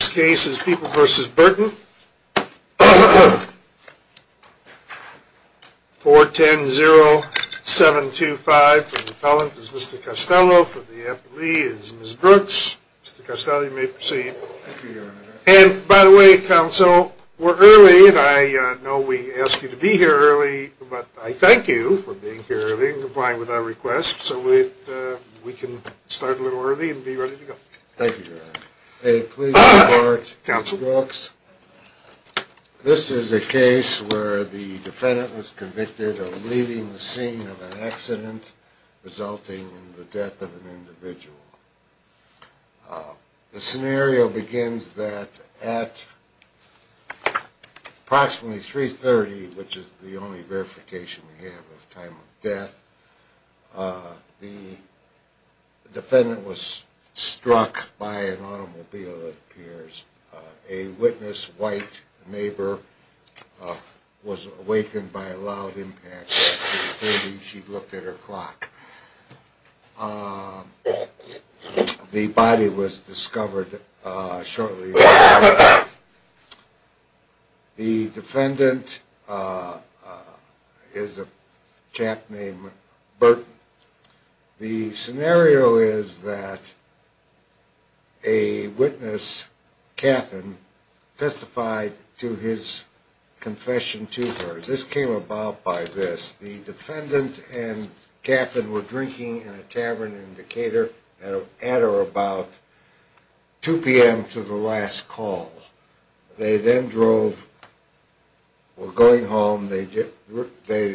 This case is People v. Burton 410-0725 for the appellant is Mr. Costello, for the appellee is Ms. Brooks. Mr. Costello, you may proceed. And, by the way, counsel, we're early and I know we ask you to be here early, but I thank you for being here early and complying with our request so we can start a little early and be ready to go. Thank you, Your Honor. Please report, Ms. Brooks. This is a case where the defendant was convicted of leaving the scene of an accident resulting in the death of an individual. The scenario begins that at approximately 3.30, which is the only verification we have of time of death, the defendant was struck by an automobile, it appears. A witness, a white neighbor, was awakened by a loud impact. She looked at her clock. The body was discovered shortly thereafter. The defendant is a chap named Burton. The scenario is that a witness, Cathan, testified to his confession to her. This came about by this, the defendant and Cathan were drinking in a tavern in Decatur at or about 2 p.m. to the last call. They then drove, were going home, they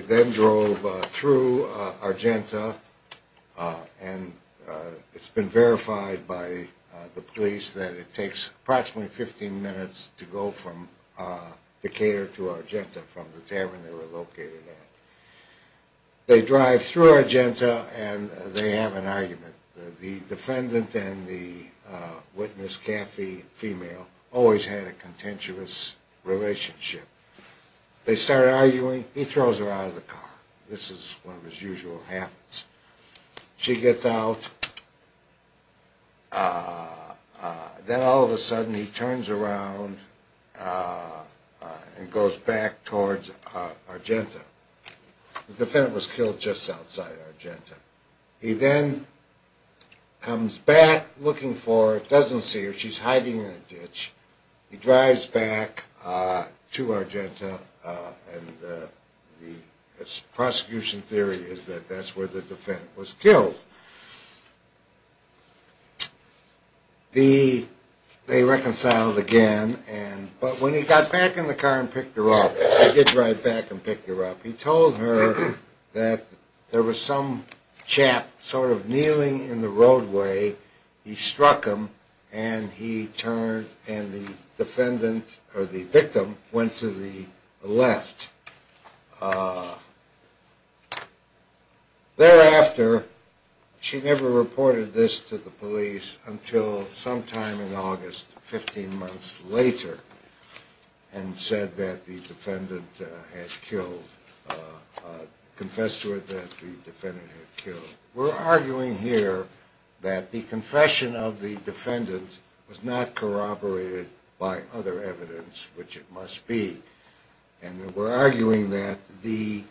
then drove through Argenta and it's been verified by the police that it takes approximately 15 minutes to go from Decatur to Argenta from the tavern they were located at. They drive through Argenta and they have an argument. The defendant and the witness, Cathy, female, always had a contentious relationship. They start arguing, he throws her out of the car. This is one of his usual habits. She gets out. Then all of a sudden he turns around and goes back towards Argenta. The defendant was killed just outside Argenta. He then comes back looking for her, doesn't see her, she's hiding in a ditch. He drives back to Argenta and the prosecution theory is that that's where the defendant was killed. They reconciled again, but when he got back in the car and picked her up, he did drive back and picked her up, he told her that there was some chap sort of kneeling in the roadway. He struck him and he turned and the victim went to the left. Thereafter, she never reported this to the police until sometime in August, 15 months later, and said that the defendant had killed, confessed to it that the defendant had killed. We're arguing here that the confession of the defendant was not corroborated by other evidence, which it must be. And we're arguing that the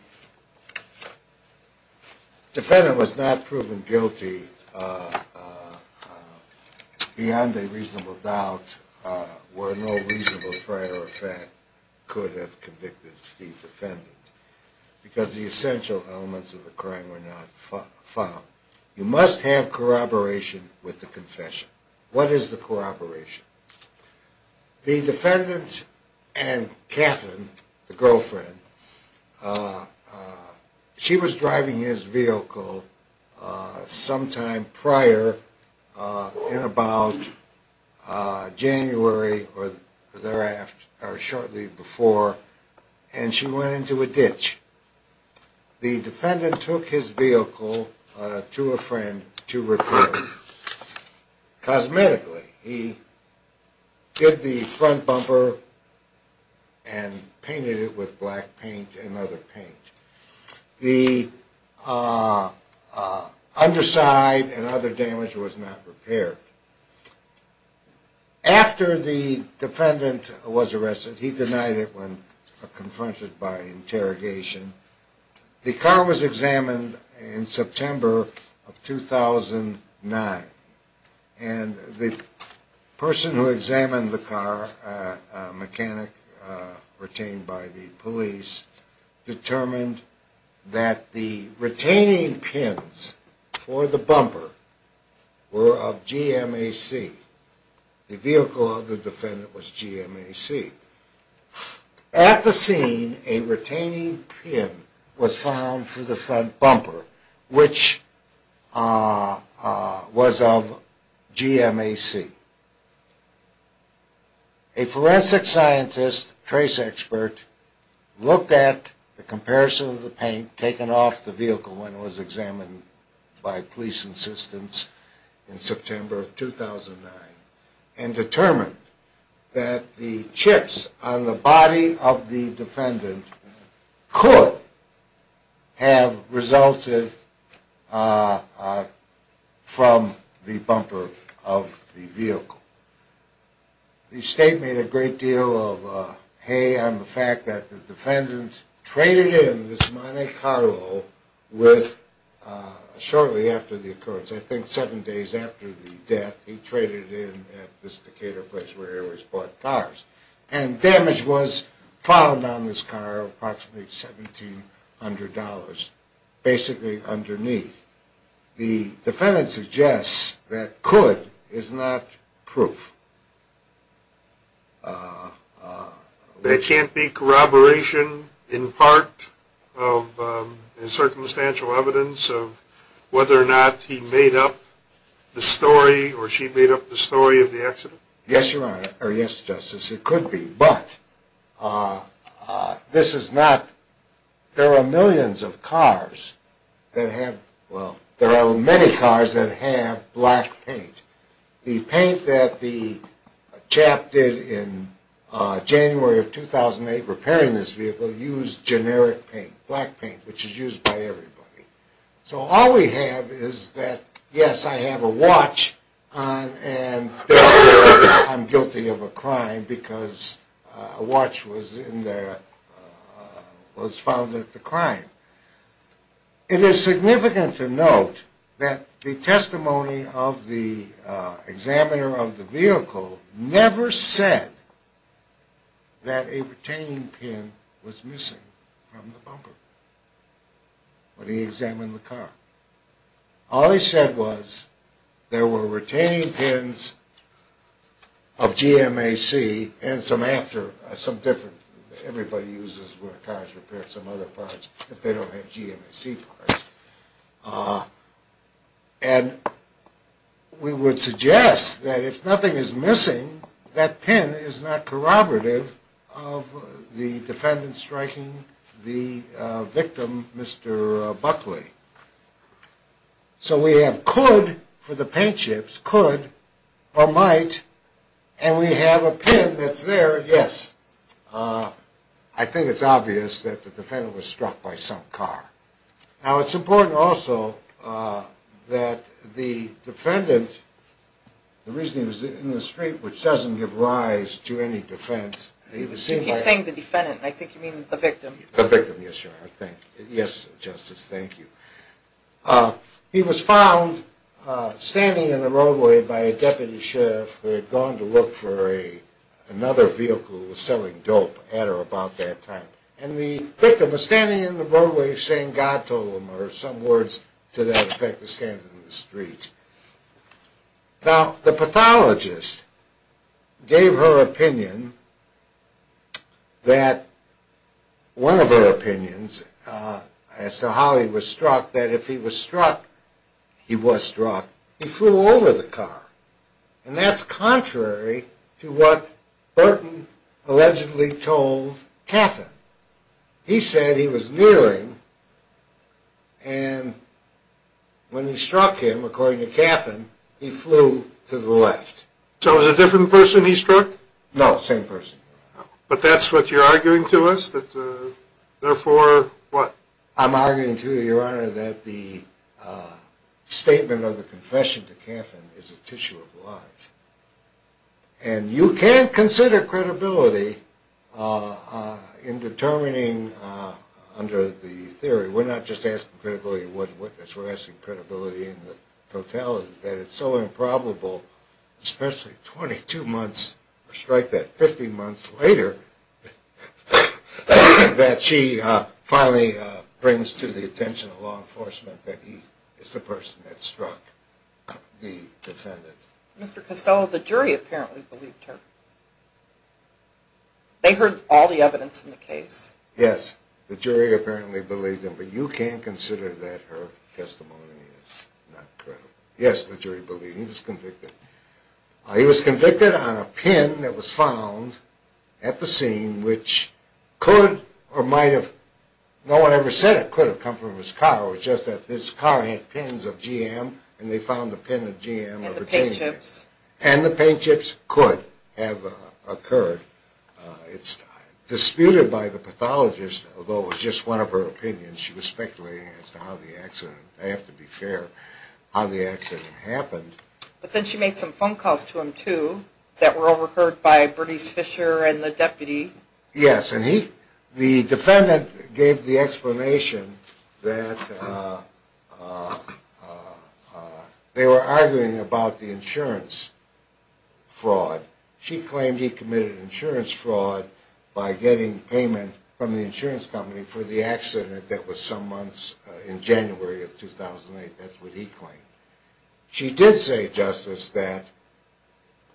defendant was not proven guilty beyond a reasonable doubt where no reasonable prior effect could have convicted the defendant. Because the essential elements of the crime were not found. You must have corroboration with the confession. What is the corroboration? The defendant and Catherine, the girlfriend, she was driving his vehicle sometime prior in about January or thereafter, or shortly before, and she went into a ditch. The defendant took his vehicle to a friend to repair it. Cosmetically, he did the front bumper and painted it with black paint and other paint. The underside and other damage was not repaired. After the defendant was arrested, he denied it when confronted by interrogation. The car was examined in September of 2009. And the person who examined the car, a mechanic retained by the police, determined that the retaining pins for the bumper were of GMAC. The vehicle of the defendant was GMAC. At the scene, a retaining pin was found for the front bumper, which was of GMAC. A forensic scientist, trace expert, looked at the comparison of the paint taken off the vehicle when it was examined by police insistence in September of 2009 and determined that the chips on the body of the defendant could have resulted from the bumper of the vehicle. The state made a great deal of hay on the fact that the defendant traded in this Monte Carlo with, shortly after the occurrence, I think seven days after the death, he traded in at this Decatur place where he always bought cars. And damage was found on this car of approximately $1,700, basically underneath. The defendant suggests that could is not proof. There can't be corroboration in part of the circumstantial evidence of whether or not he made up the story or she made up the story of the accident? Yes, Your Honor, or yes, Justice, it could be, but this is not, there are millions of cars that have, well, there are many cars that have black paint. The paint that the chap did in January of 2008 repairing this vehicle used generic paint, black paint, which is used by everybody. So all we have is that, yes, I have a watch and I'm guilty of a crime because a watch was found at the crime. It is significant to note that the testimony of the examiner of the vehicle never said that a retaining pin was missing from the bumper when he examined the car. All he said was there were retaining pins of GMAC and some after, some different, everybody uses where cars repair some other parts if they don't have GMAC parts. And we would suggest that if nothing is missing, that pin is not corroborative of the defendant striking the victim, Mr. Buckley. So we have could for the paint chips, could or might, and we have a pin that's there, yes, I think it's obvious that the defendant was struck by some car. Now it's important also that the defendant, the reason he was in the street, which doesn't give rise to any defense. You keep saying the defendant, I think you mean the victim. The victim, yes, sir, yes, Justice, thank you. He was found standing in the roadway by a deputy sheriff who had gone to look for another vehicle that was selling dope at or about that time. And the victim was standing in the roadway saying God told him, or some words to that effect, was standing in the street. Now the pathologist gave her opinion that, one of her opinions as to how he was struck, that if he was struck, he was struck, he flew over the car. And that's contrary to what Burton allegedly told Caffin. He said he was nearing, and when he struck him, according to Caffin, he flew to the left. So it was a different person he struck? No, same person. But that's what you're arguing to us, that therefore, what? I'm arguing to you, Your Honor, that the statement of the confession to Caffin is a tissue of lies. And you can't consider credibility in determining under the theory. We're not just asking credibility of one witness. We're asking credibility in the totality that it's so improbable, especially 22 months, or strike that, 15 months later, that she finally brings to the attention of law enforcement that he is the person that struck the defendant. Mr. Costello, the jury apparently believed her. They heard all the evidence in the case. Yes, the jury apparently believed him. But you can't consider that her testimony is not credible. Yes, the jury believed him. He was convicted. He was convicted on a pin that was found at the scene, which could or might have, no one ever said it could have come from his car. It was just that his car had pins of GM, and they found a pin of GM. And the paint chips. And the paint chips could have occurred. It's disputed by the pathologist, although it was just one of her opinions. She was speculating as to how the accident, I have to be fair, how the accident happened. But then she made some phone calls to him, too, that were overheard by Bernice Fisher and the deputy. Yes, and the defendant gave the explanation that they were arguing about the insurance fraud. She claimed he committed insurance fraud by getting payment from the insurance company for the accident that was some months in January of 2008. That's what he claimed. She did say, Justice, that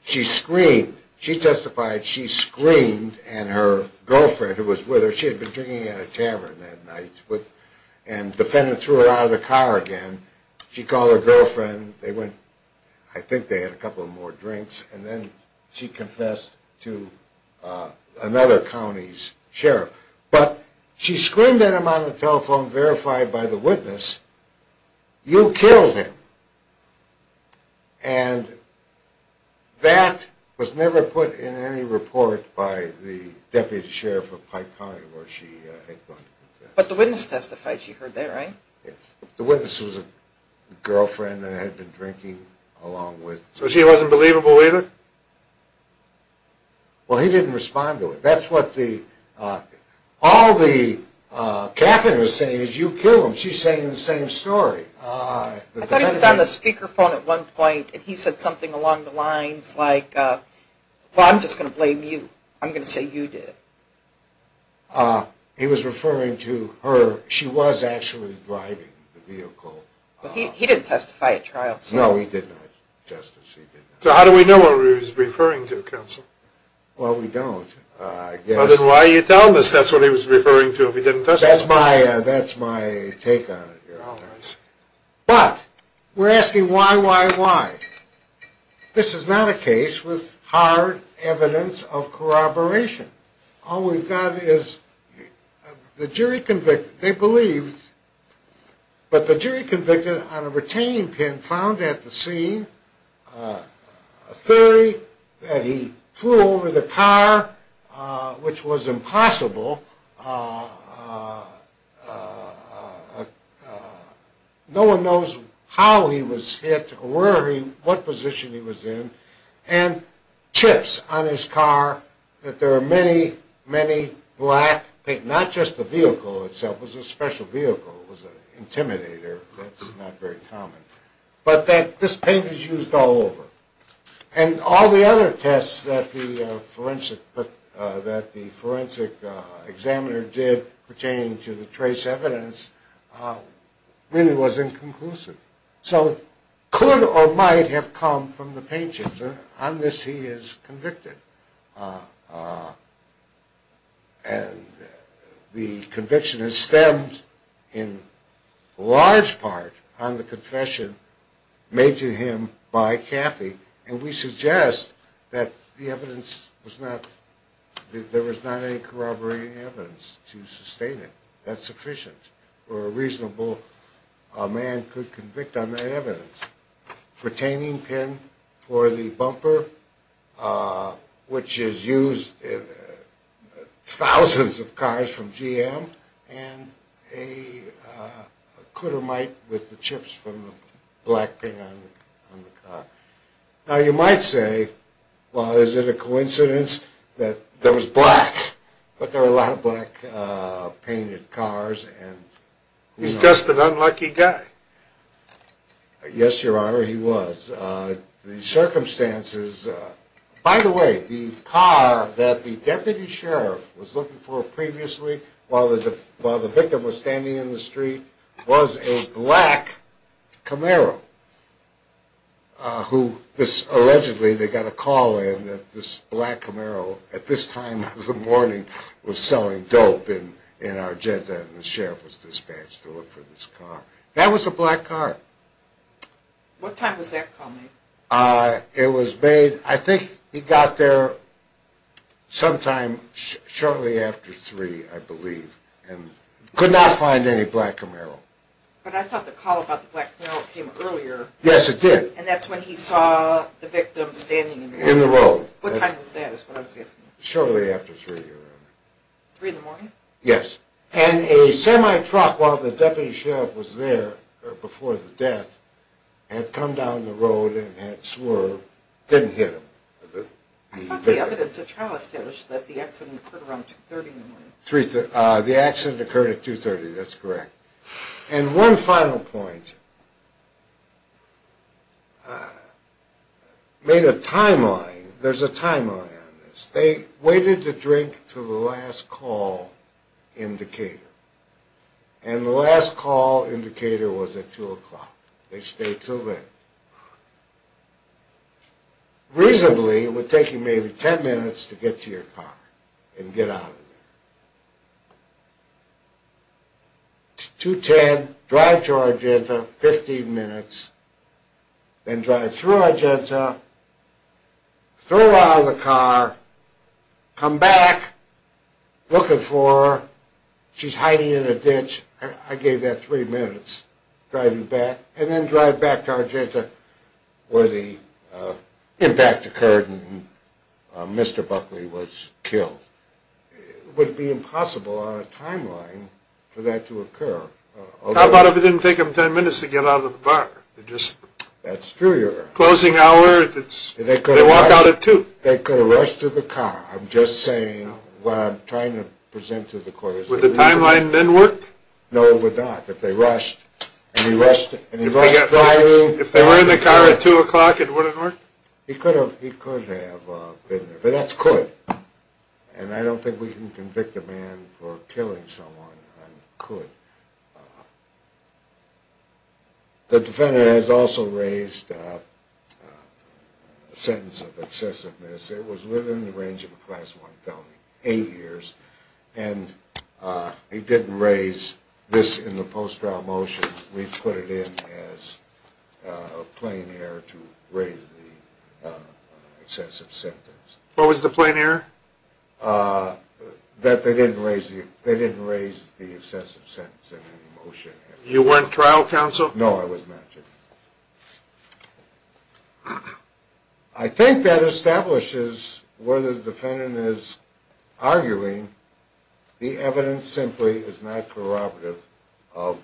she screamed. She testified she screamed, and her girlfriend who was with her, she had been drinking at a tavern that night, and the defendant threw her out of the car again. She called her girlfriend. I think they had a couple more drinks, and then she confessed to another county's sheriff. But she screamed at him on the telephone, verified by the witness, you killed him. And that was never put in any report by the deputy sheriff of Pike County where she had gone to confess. But the witness testified. She heard that, right? Yes. The witness was a girlfriend that had been drinking along with… So she wasn't believable either? Well, he didn't respond to it. That's what all the caffeiners say is, you killed him. She's saying the same story. I thought he was on the speakerphone at one point, and he said something along the lines like, well, I'm just going to blame you. I'm going to say you did it. He was referring to her. She was actually driving the vehicle. He didn't testify at trial. No, he did not, Justice. So how do we know what he was referring to, counsel? Well, we don't. Then why are you telling us that's what he was referring to if he didn't testify? That's my take on it, Your Honor. But we're asking why, why, why? This is not a case with hard evidence of corroboration. All we've got is the jury convicted. They believed, but the jury convicted on a retaining pin found at the scene a theory that he flew over the car, which was impossible. No one knows how he was hit or what position he was in, and chips on his car that there are many, many black, not just the vehicle itself. It was a special vehicle. It was an intimidator. That's not very common. But this paint was used all over. And all the other tests that the forensic examiner did pertaining to the trace evidence really was inconclusive. So could or might have come from the paint chips. On this he is convicted. And the conviction has stemmed in large part on the confession made to him by Kathy. And we suggest that the evidence was not, that there was not any corroborating evidence to sustain it. That's sufficient for a reasonable man could convict on that evidence. Retaining pin for the bumper, which is used in thousands of cars from GM, and a could or might with the chips from the black paint on the car. Now you might say, well, is it a coincidence that there was black, but there were a lot of black painted cars. He's just an unlucky guy. Yes, your honor, he was. The circumstances. By the way, the car that the deputy sheriff was looking for previously, while the victim was standing in the street, was a black Camaro. Allegedly they got a call in that this black Camaro at this time of the morning was selling dope in Argentina. And the sheriff was dispatched to look for this car. That was a black car. What time was that call made? It was made, I think he got there sometime shortly after three, I believe, and could not find any black Camaro. But I thought the call about the black Camaro came earlier. Yes, it did. And that's when he saw the victim standing in the road. In the road. What time was that is what I was asking. Shortly after three, your honor. Three in the morning? Yes. And a semi-truck, while the deputy sheriff was there before the death, had come down the road and had swerved, didn't hit him. I thought the evidence at trial established that the accident occurred around 2.30 in the morning. The accident occurred at 2.30, that's correct. And one final point. Made a timeline. There's a timeline on this. They waited to drink to the last call indicator. And the last call indicator was at 2 o'clock. They stayed until then. Reasonably, it would take you maybe ten minutes to get to your car and get out of there. 2.10, drive to Argenta, 15 minutes, then drive through Argentina, throw her out of the car, come back, looking for her. She's hiding in a ditch. I gave that three minutes, driving back. And then drive back to Argentina where the impact occurred and Mr. Buckley was killed. It would be impossible on a timeline for that to occur. How about if it didn't take them ten minutes to get out of the bar? That's true. Closing hour, they walk out at 2. They could have rushed to the car. I'm just saying what I'm trying to present to the court. Would the timeline then work? No, it would not. If they rushed, and he rushed to the hiring. If they were in the car at 2 o'clock, it wouldn't work? He could have been there. But that's could. And I don't think we can convict a man for killing someone on could. The defendant has also raised a sentence of excessiveness. It was within the range of a Class I felony, eight years. And he didn't raise this in the post-trial motion. We put it in as a plain error to raise the excessive sentence. What was the plain error? That they didn't raise the excessive sentence in any motion. You weren't trial counsel? No, I was not. Thank you. I think that establishes whether the defendant is arguing the evidence simply is not prerogative of,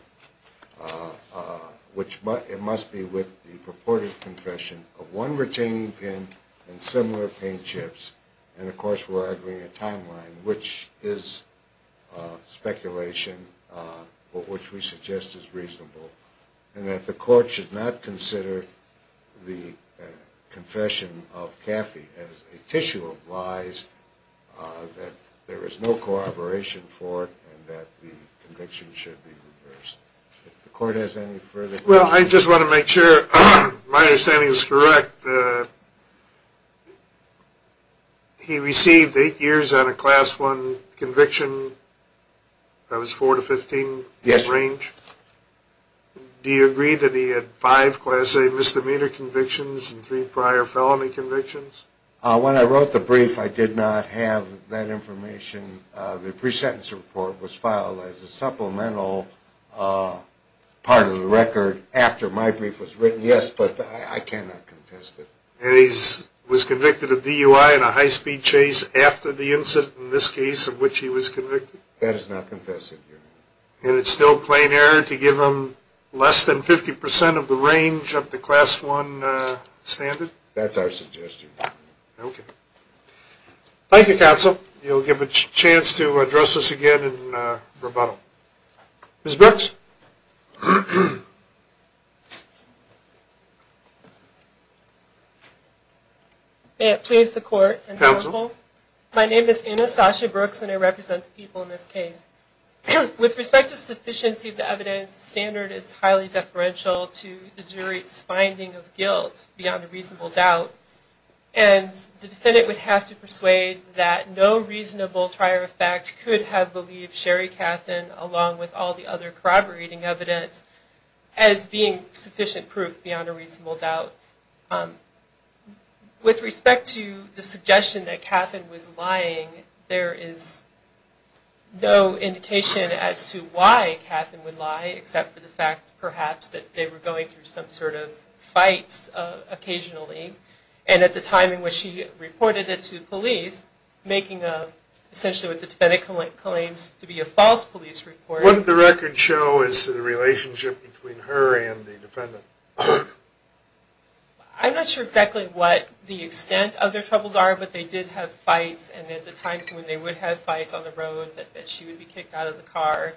which it must be with the purported confession of one retaining pin and similar paint chips. And of course, we're arguing a timeline, which is speculation, but which we suggest is reasonable. And that the court should not consider the confession of Caffey as a tissue of lies, that there is no corroboration for it, and that the conviction should be reversed. If the court has any further questions. Well, I just want to make sure my understanding is correct. He received eight years on a Class I conviction? That was 4 to 15? Yes. Do you agree that he had five Class A misdemeanor convictions and three prior felony convictions? When I wrote the brief, I did not have that information. The pre-sentence report was filed as a supplemental part of the record after my brief was written, yes. But I cannot contest it. And he was convicted of DUI and a high-speed chase after the incident, in this case, of which he was convicted? That is not confessed, Your Honor. And it's still plain error to give him less than 50% of the range of the Class I standard? That's our suggestion. Okay. Thank you, Counsel. You'll give a chance to address this again in rebuttal. Ms. Brooks? May it please the Court and the Counsel. My name is Anastasia Brooks, and I represent the people in this case. With respect to sufficiency of the evidence, the standard is highly deferential to the jury's finding of guilt, beyond a reasonable doubt. And the defendant would have to persuade that no reasonable prior effect could have believed Sherry Kaffen, along with all the other corroborating evidence, as being sufficient proof beyond a reasonable doubt. With respect to the suggestion that Kaffen was lying, there is no indication as to why Kaffen would lie, except for the fact, perhaps, that they were going through some sort of fights occasionally. And at the time in which she reported it to the police, making essentially what the defendant claims to be a false police report. What did the record show as to the relationship between her and the defendant? I'm not sure exactly what the extent of their troubles are, but they did have fights, and at the times when they would have fights on the road, that she would be kicked out of the car.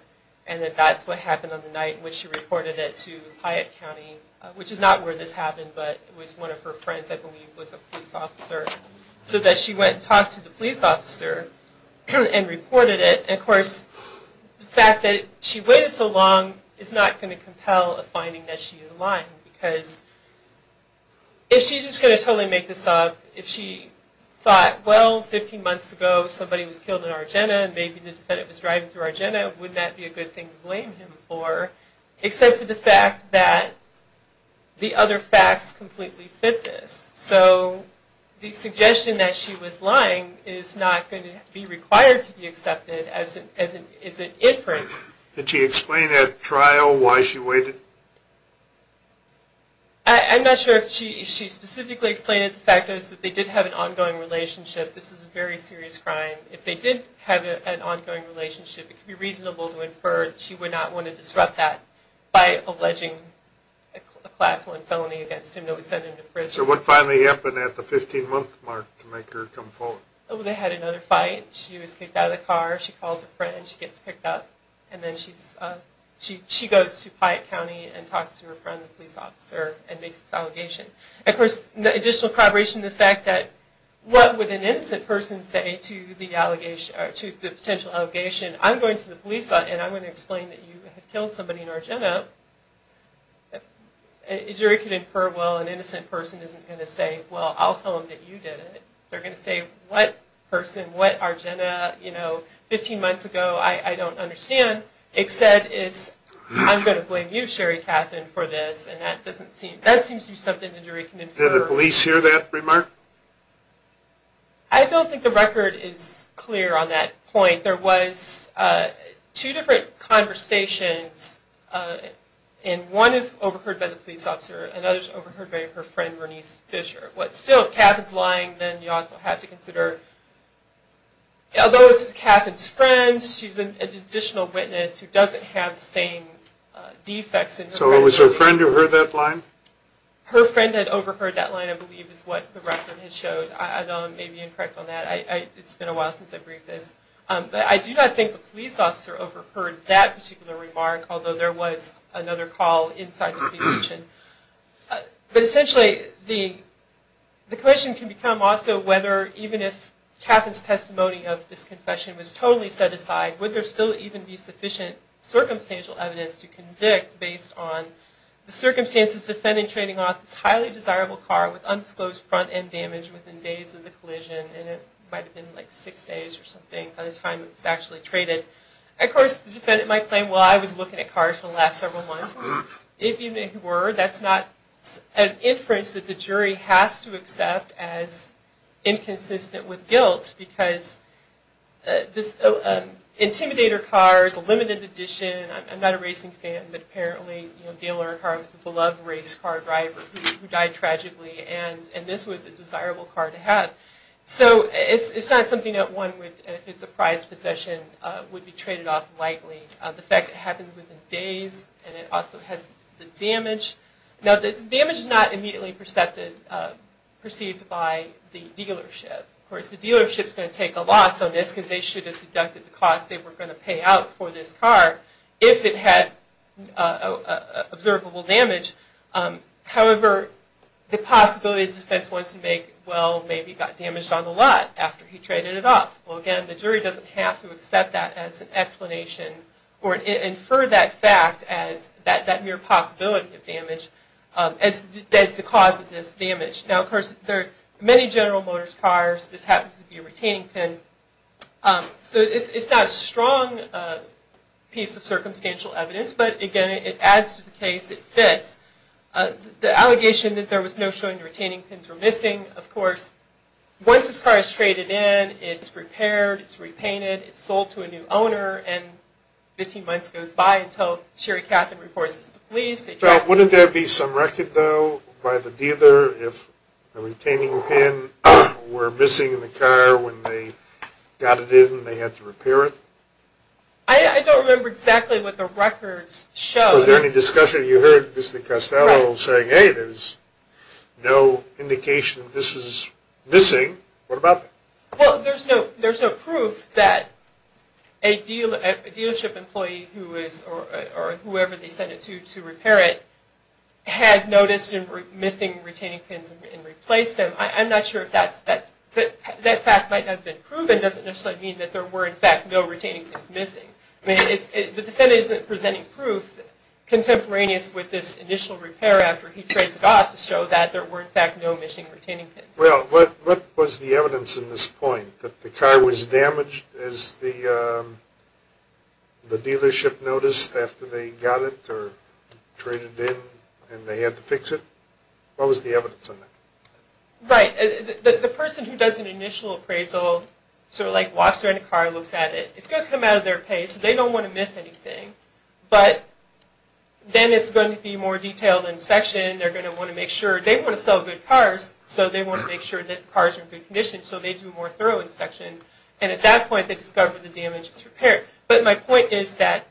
And that's what happened on the night when she reported it to Hyatt County, which is not where this happened, but it was one of her friends, I believe, was a police officer. So that she went and talked to the police officer and reported it. And of course, the fact that she waited so long is not going to compel a finding that she is lying, because if she's just going to totally make this up, if she thought, well, 15 months ago somebody was killed in Argenna, and maybe the defendant was driving through Argenna, would that be a good thing to blame him for? Except for the fact that the other facts completely fit this. So the suggestion that she was lying is not going to be required to be accepted as an inference. Did she explain at trial why she waited? I'm not sure if she specifically explained it. The fact is that they did have an ongoing relationship. This is a very serious crime. If they did have an ongoing relationship, it could be reasonable to infer she would not want to disrupt that by alleging a Class I felony against him that was sent into prison. So what finally happened at the 15-month mark to make her come forward? Well, they had another fight. She was kicked out of the car. She calls her friend. She gets picked up. And then she goes to Piatt County and talks to her friend, the police officer, and makes this allegation. Of course, the additional corroboration to the fact that what would an innocent person say to the potential allegation? I'm going to the police and I'm going to explain that you had killed somebody in Argenna. A jury could infer, well, an innocent person isn't going to say, well, I'll tell them that you did it. They're going to say, what person, what Argenna, you know, 15 months ago, I don't understand, except it's I'm going to blame you, Sherry Kaffen, for this. And that seems to be something the jury can infer. Did the police hear that remark? I don't think the record is clear on that point. There was two different conversations, and one is overheard by the police officer and the other is overheard by her friend, Bernice Fisher. Still, if Kaffen's lying, then you also have to consider, although it's Kaffen's friend, she's an additional witness who doesn't have the same defects. So it was her friend who heard that line? Her friend had overheard that line, I believe, is what the record had showed. I may be incorrect on that. It's been a while since I've briefed this. I do not think the police officer overheard that particular remark, although there was another call inside the police station. But essentially the question can become also whether, even if Kaffen's testimony of this confession was totally set aside, would there still even be sufficient circumstantial evidence to convict based on the circumstances defending trading off this highly desirable car with undisclosed front end damage within days of the collision? And it might have been like six days or something by the time it was actually traded. Of course, the defendant might claim, well, I was looking at cars for the last several months. If you were, that's not an inference that the jury has to accept as inconsistent with guilt, because this Intimidator car is a limited edition. I'm not a racing fan, but apparently Dale Earnhardt was a beloved race car driver who died tragically, and this was a desirable car to have. So it's not something that one would, if it's a prized possession, would be traded off lightly. The fact that it happened within days, and it also has the damage. Now, the damage is not immediately perceived by the dealership. Of course, the dealership is going to take a loss on this, because they should have deducted the cost they were going to pay out for this car if it had observable damage. However, the possibility the defense wants to make, well, maybe it got damaged on the lot after he traded it off. Well, again, the jury doesn't have to accept that as an explanation, or infer that fact as that mere possibility of damage, as the cause of this damage. Now, of course, many General Motors cars, this happens to be a retaining pin. So it's not a strong piece of circumstantial evidence, but again, it adds to the case, it fits. Of course, once this car is traded in, it's repaired, it's repainted, it's sold to a new owner, and 15 months goes by until Sherry Catherine reports it to the police. Wouldn't there be some record, though, by the dealer, if the retaining pin were missing in the car when they got it in and they had to repair it? I don't remember exactly what the records show. Was there any discussion? You heard Mr. Castello saying, hey, there's no indication that this is missing. What about that? Well, there's no proof that a dealership employee or whoever they sent it to to repair it had noticed a missing retaining pin and replaced them. I'm not sure if that fact might have been proven. It doesn't necessarily mean that there were, in fact, no retaining pins missing. The defendant isn't presenting proof contemporaneous with this initial repair after he trades it off to show that there were, in fact, no missing retaining pins. Well, what was the evidence in this point? That the car was damaged as the dealership noticed after they got it or traded it in and they had to fix it? What was the evidence on that? Right. The person who does an initial appraisal, sort of like walks around the car and looks at it, it's going to come out of their pay, so they don't want to miss anything. But then it's going to be a more detailed inspection. They're going to want to make sure. They want to sell good cars, so they want to make sure that the car is in good condition so they do a more thorough inspection. And at that point, they discover the damage is repaired. But my point is that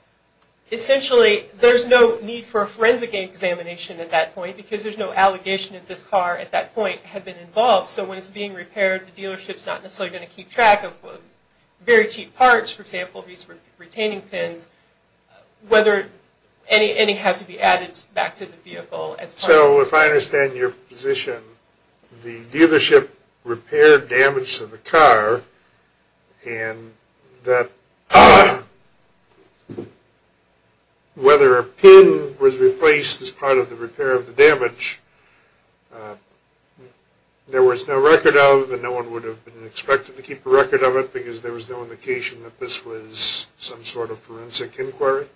essentially there's no need for a forensic examination at that point because there's no allegation that this car at that point had been involved. So when it's being repaired, the dealership's not necessarily going to keep track of very cheap parts, for example, these retaining pins, whether any have to be added back to the vehicle. So if I understand your position, the dealership repaired damage to the car and that whether a pin was replaced as part of the repair of the damage, there was no record of, and no one would have been expected to keep a record of it because there was no indication that this was some sort of forensic inquiry?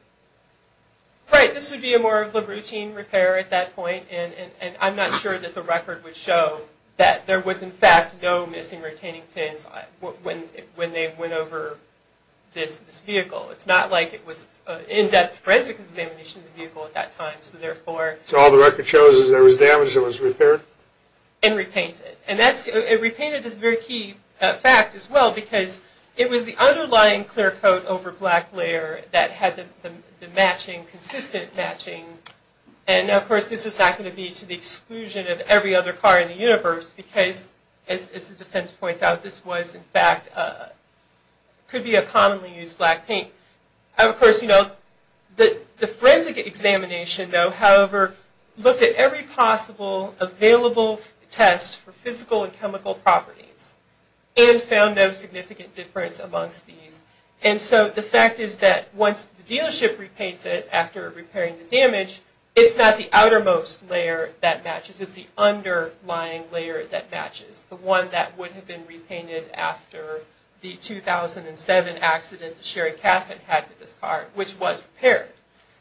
Right. This would be a more of a routine repair at that point, and I'm not sure that the record would show that there was, in fact, no missing retaining pins when they went over this vehicle. It's not like it was an in-depth forensic examination of the vehicle at that time. So all the record shows is there was damage that was repaired? And repainted. And it repainted is a very key fact as well because it was the underlying clear coat over black layer that had the consistent matching. And, of course, this is not going to be to the exclusion of every other car in the universe because, as the defense points out, this was, in fact, could be a commonly used black paint. Of course, the forensic examination, though, however, looked at every possible available test for physical and chemical properties and found no significant difference amongst these. And so the fact is that once the dealership repaints it after repairing the damage, it's not the outermost layer that matches, it's the underlying layer that matches, the one that would have been repainted after the 2007 accident that Sherry Caffin had with this car, which was repaired.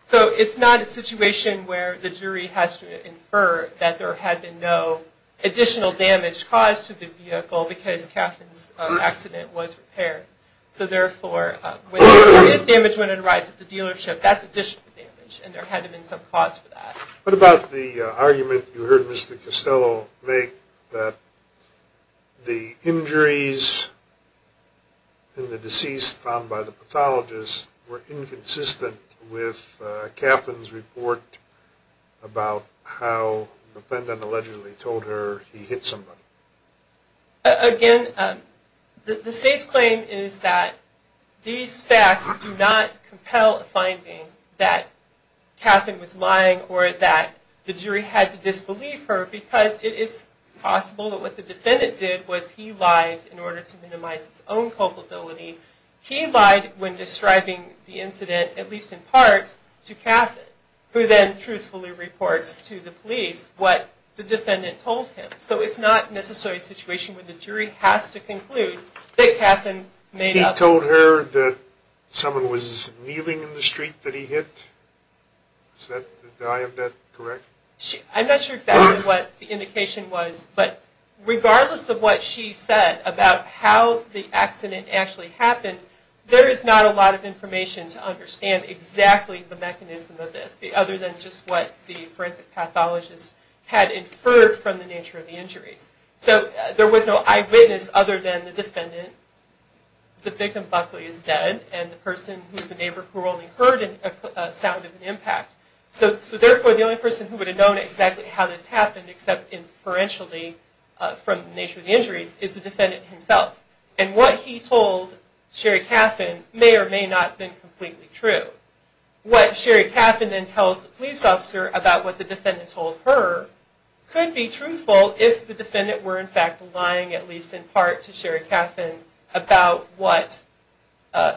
So it's not a situation where the jury has to infer that there had been no additional damage caused to the vehicle because Caffin's accident was repaired. So, therefore, when there is damage when it arrives at the dealership, that's additional damage and there had to have been some cause for that. What about the argument you heard Mr. Costello make that the injuries in the deceased found by the pathologist were inconsistent with Caffin's report about how the defendant allegedly told her he hit somebody? Again, the state's claim is that these facts do not compel a finding that Caffin was lying or that the jury had to disbelieve her because it is possible that what the defendant did was he lied in order to minimize his own culpability. He lied when describing the incident, at least in part, to Caffin, who then truthfully reports to the police what the defendant told him. So it's not necessarily a situation where the jury has to conclude that Caffin made up... He told her that someone was kneeling in the street that he hit? Do I have that correct? I'm not sure exactly what the indication was, but regardless of what she said about how the accident actually happened, there is not a lot of information to understand exactly the mechanism of this other than just what the forensic pathologist had inferred from the nature of the injuries. The victim, Buckley, is dead, and the person who is the neighbor who only heard a sound of an impact. So therefore, the only person who would have known exactly how this happened, except inferentially from the nature of the injuries, is the defendant himself. And what he told Sherry Caffin may or may not have been completely true. What Sherry Caffin then tells the police officer about what the defendant told her could be truthful if the defendant were in fact lying, at least in part, to Sherry Caffin about what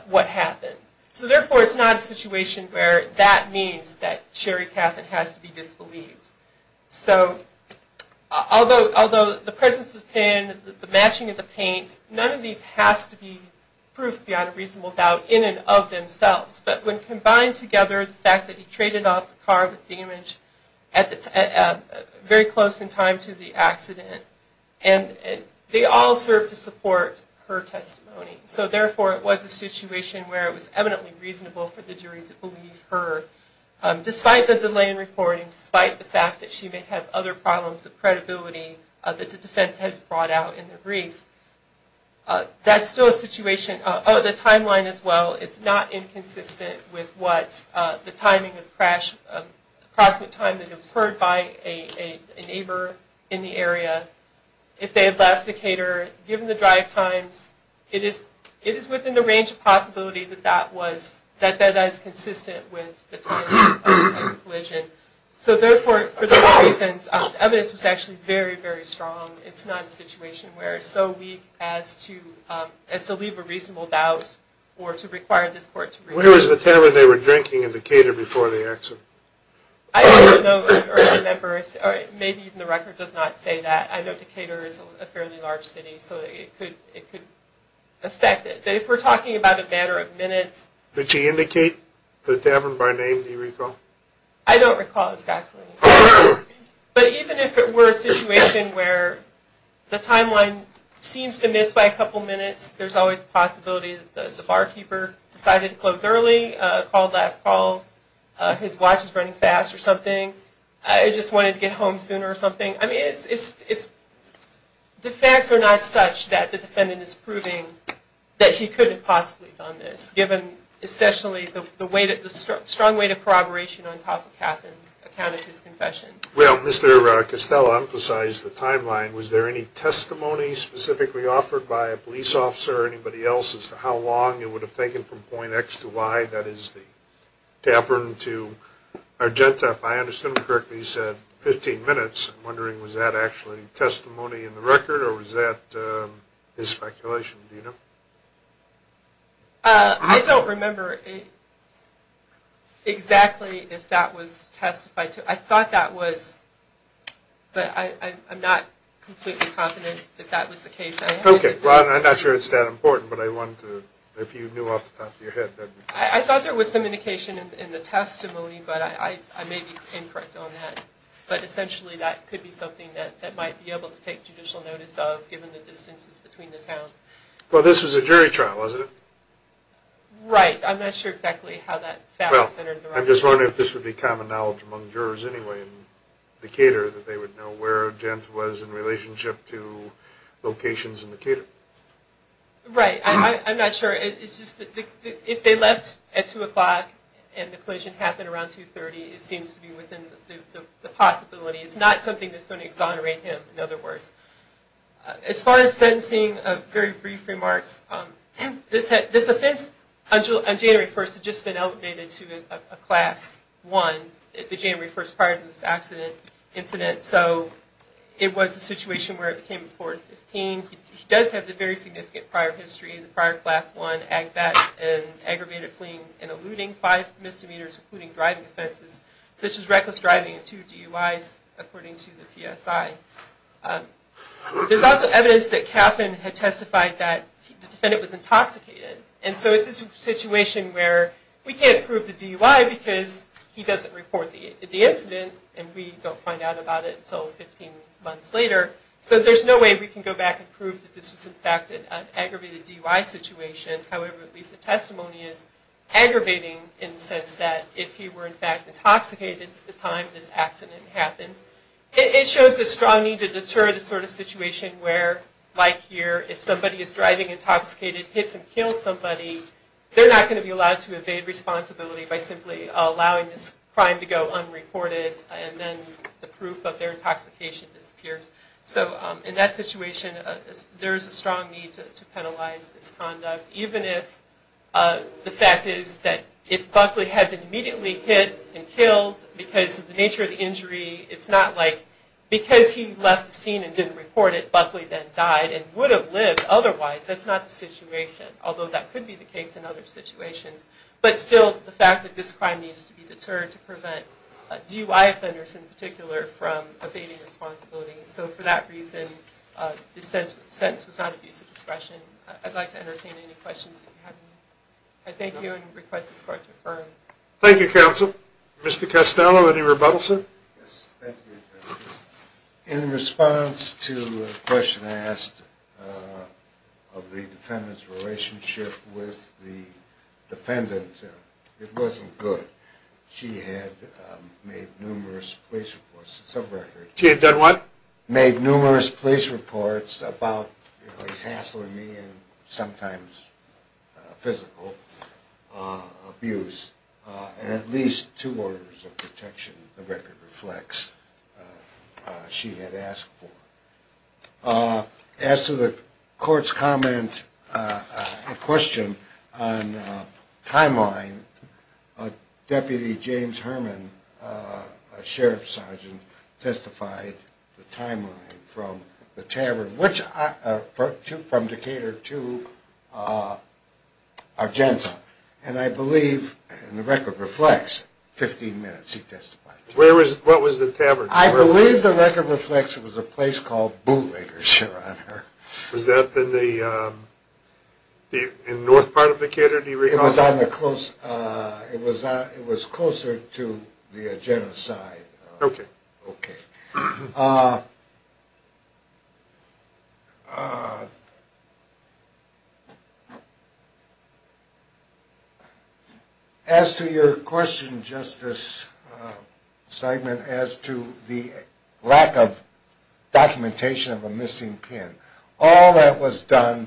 happened. So therefore, it's not a situation where that means that Sherry Caffin has to be disbelieved. So although the presence of the pen, the matching of the paint, none of these has to be proof beyond a reasonable doubt in and of themselves. But when combined together, the fact that he traded off the car with damage very close in time to the accident, they all serve to support her testimony. So therefore, it was a situation where it was eminently reasonable for the jury to believe her, despite the delay in reporting, despite the fact that she may have other problems of credibility that's still a situation. Oh, the timeline as well, it's not inconsistent with what the timing of the crash, the approximate time that it was heard by a neighbor in the area. If they had left the cater, given the drive times, it is within the range of possibility So therefore, for those reasons, evidence was actually very, very strong. It's not a situation where it's so weak as to leave a reasonable doubt or to require this court to review. Where was the tavern they were drinking in Decatur before the accident? I don't know, or I remember, or maybe even the record does not say that. I know Decatur is a fairly large city, so it could affect it. But if we're talking about a matter of minutes. Did she indicate the tavern by name, do you recall? I don't recall exactly. But even if it were a situation where the timeline seems to miss by a couple minutes, there's always a possibility that the barkeeper decided to close early, called last call, his watch was running fast or something, or just wanted to get home sooner or something. The facts are not such that the defendant is proving that he couldn't have possibly done this, given the strong weight of corroboration on top of Katherine's account of his confession. Well, Mr. Costello emphasized the timeline. Was there any testimony specifically offered by a police officer or anybody else as to how long it would have taken from point X to Y, that is, the tavern to Argenta? If I understood him correctly, he said 15 minutes. I'm wondering was that actually testimony in the record or was that his speculation? I don't remember exactly if that was testified to. I thought that was, but I'm not completely confident that that was the case. Okay, well, I'm not sure it's that important, but I wanted to, if you knew off the top of your head. I thought there was some indication in the testimony, but I may be incorrect on that. But essentially that could be something that might be able to take judicial notice of, given the distances between the towns. Well, this was a jury trial, wasn't it? Well, I'm just wondering if this would be common knowledge among jurors anyway in Decatur that they would know where Jant was in relationship to locations in Decatur. Right, I'm not sure. If they left at 2 o'clock and the collision happened around 2.30, it seems to be within the possibility. It's not something that's going to exonerate him, in other words. As far as sentencing, very brief remarks. This offense on January 1st had just been elevated to a Class I, the January 1st prior to this incident. So it was a situation where it became a 415. He does have the very significant prior history in the prior Class I act that aggravated fleeing and eluding five misdemeanors, including driving offenses, such as reckless driving and two DUIs, according to the PSI. There's also evidence that Caffin had testified that the defendant was intoxicated. And so it's a situation where we can't prove the DUI because he doesn't report the incident and we don't find out about it until 15 months later. So there's no way we can go back and prove that this was, in fact, an aggravated DUI situation. However, at least the testimony is aggravating in the sense that if he were, in fact, intoxicated at the time this accident happens. It shows the strong need to deter the sort of situation where, like here, if somebody is driving intoxicated, hits and kills somebody, they're not going to be allowed to evade responsibility by simply allowing this crime to go unreported and then the proof of their intoxication disappears. So in that situation, there is a strong need to penalize this conduct, even if the fact is that if Buckley had been immediately hit and killed, because of the nature of the injury, it's not like because he left the scene and didn't report it, Buckley then died and would have lived otherwise. That's not the situation, although that could be the case in other situations. But still, the fact that this crime needs to be deterred to prevent DUI offenders in particular from evading responsibility. So for that reason, this sentence was not abuse of discretion. I'd like to entertain any questions you have. I thank you and request this Court to affirm. Thank you, Counsel. Mr. Costello, any rebuttals, sir? In response to a question I asked of the defendant's relationship with the defendant, it wasn't good. She had made numerous police reports. She had done what? And at least two orders of protection, the record reflects, she had asked for. As to the Court's comment, a question on timeline, Deputy James Herman, a sheriff's sergeant, testified the timeline from the tavern, from Decatur to Argenta. And I believe, and the record reflects, 15 minutes he testified. What was the tavern? I believe the record reflects it was a place called Bootlegger's, Your Honor. Was that in the north part of Decatur, do you recall? It was closer to the genocide. As to your question, Justice Simon, as to the lack of documentation of a missing pin, all that was done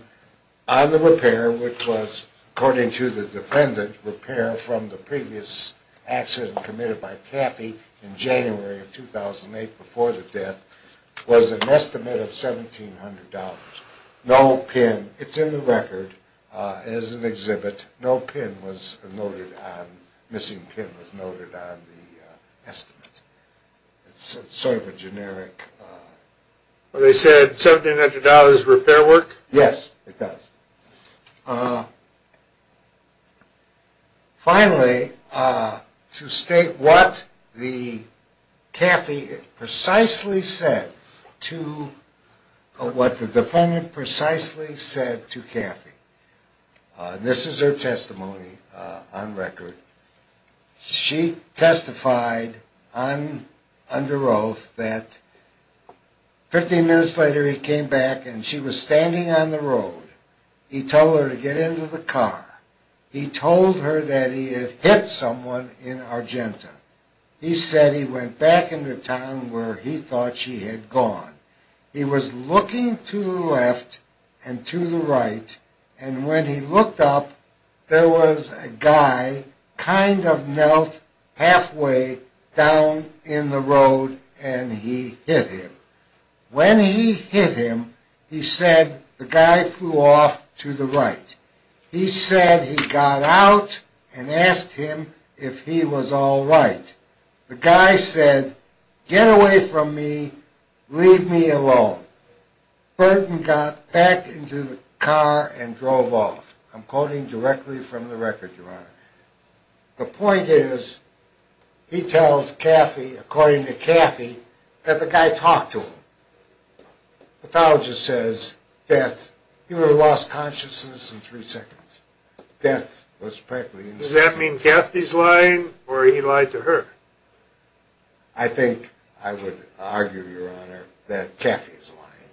on the repair, which was, according to the defendant, repair from the previous accident committed by Caffey in January of 2008 before the death, was an estimate of $1,700. No pin, it's in the record as an exhibit, no pin was noted on, missing pin was noted on the estimate. It's sort of a generic. They said $1,700 for repair work? Yes, it does. Finally, to state what the Caffey precisely said to, what the defendant precisely said to Caffey. This is her testimony on record. She testified under oath that 15 minutes later he came back and she was standing on the road. He told her to get into the car. He told her that he had hit someone in Argenta. He said he went back into town where he thought she had gone. He was looking to the left and to the right and when he looked up, there was a guy kind of knelt halfway down in the road and he hit him. When he hit him, he said the guy flew off to the right. He said he got out and asked him if he was all right. The guy said, get away from me, leave me alone. Burton got back into the car and drove off. The point is, he tells Caffey, according to Caffey, that the guy talked to him. The pathologist says, death, he would have lost consciousness in three seconds. Does that mean Caffey's lying or he lied to her? I think I would argue, Your Honor, that Caffey's lying.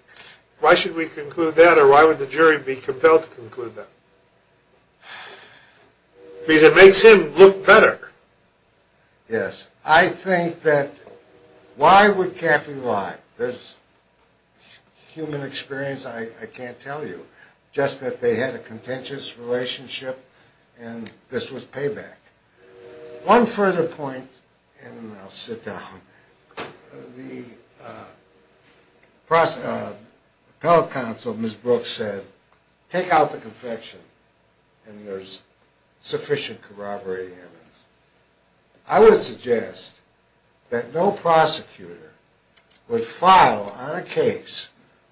Why should we conclude that or why would the jury be compelled to conclude that? Because it makes him look better. Yes, I think that why would Caffey lie? There's human experience, I can't tell you. Just that they had a contentious relationship and this was payback. One further point, and then I'll sit down. The appellate counsel, Ms. Brooks said, take out the confession and there's sufficient corroborating evidence. I would suggest that no prosecutor would file on a case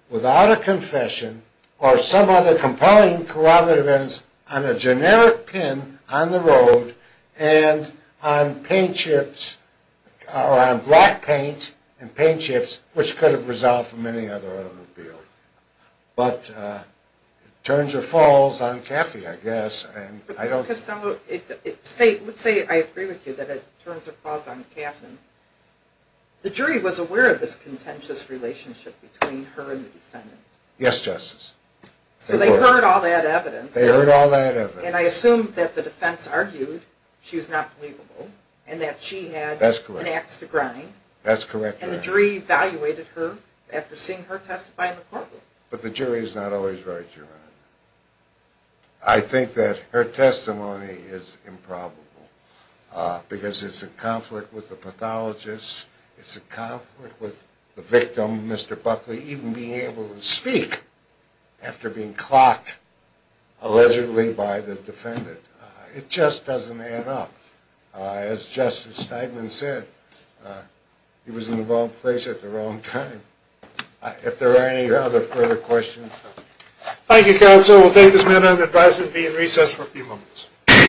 without a confession or some other compelling corroborative evidence on a generic pin on the road and on paint chips or on black paint and paint chips, which could have resolved from any other automobile. But it turns or falls on Caffey, I guess. Let's say I agree with you that it turns or falls on Caffey. The jury was aware of this contentious relationship between her and the defendant. Yes, Justice. So they heard all that evidence and I assume that the defense argued she was not believable and that she had an axe to grind and the jury evaluated her after seeing her testify in the courtroom. I think that her testimony is improbable because it's a conflict with the pathologist. It's a conflict with the victim, Mr. Buckley, even being able to speak after being clocked allegedly by the defendant. It just doesn't add up. As Justice Steinman said, he was in the wrong place at the wrong time. If there are any other further questions... Thank you, Counsel. We'll take this matter and advise it to be in recess for a few moments.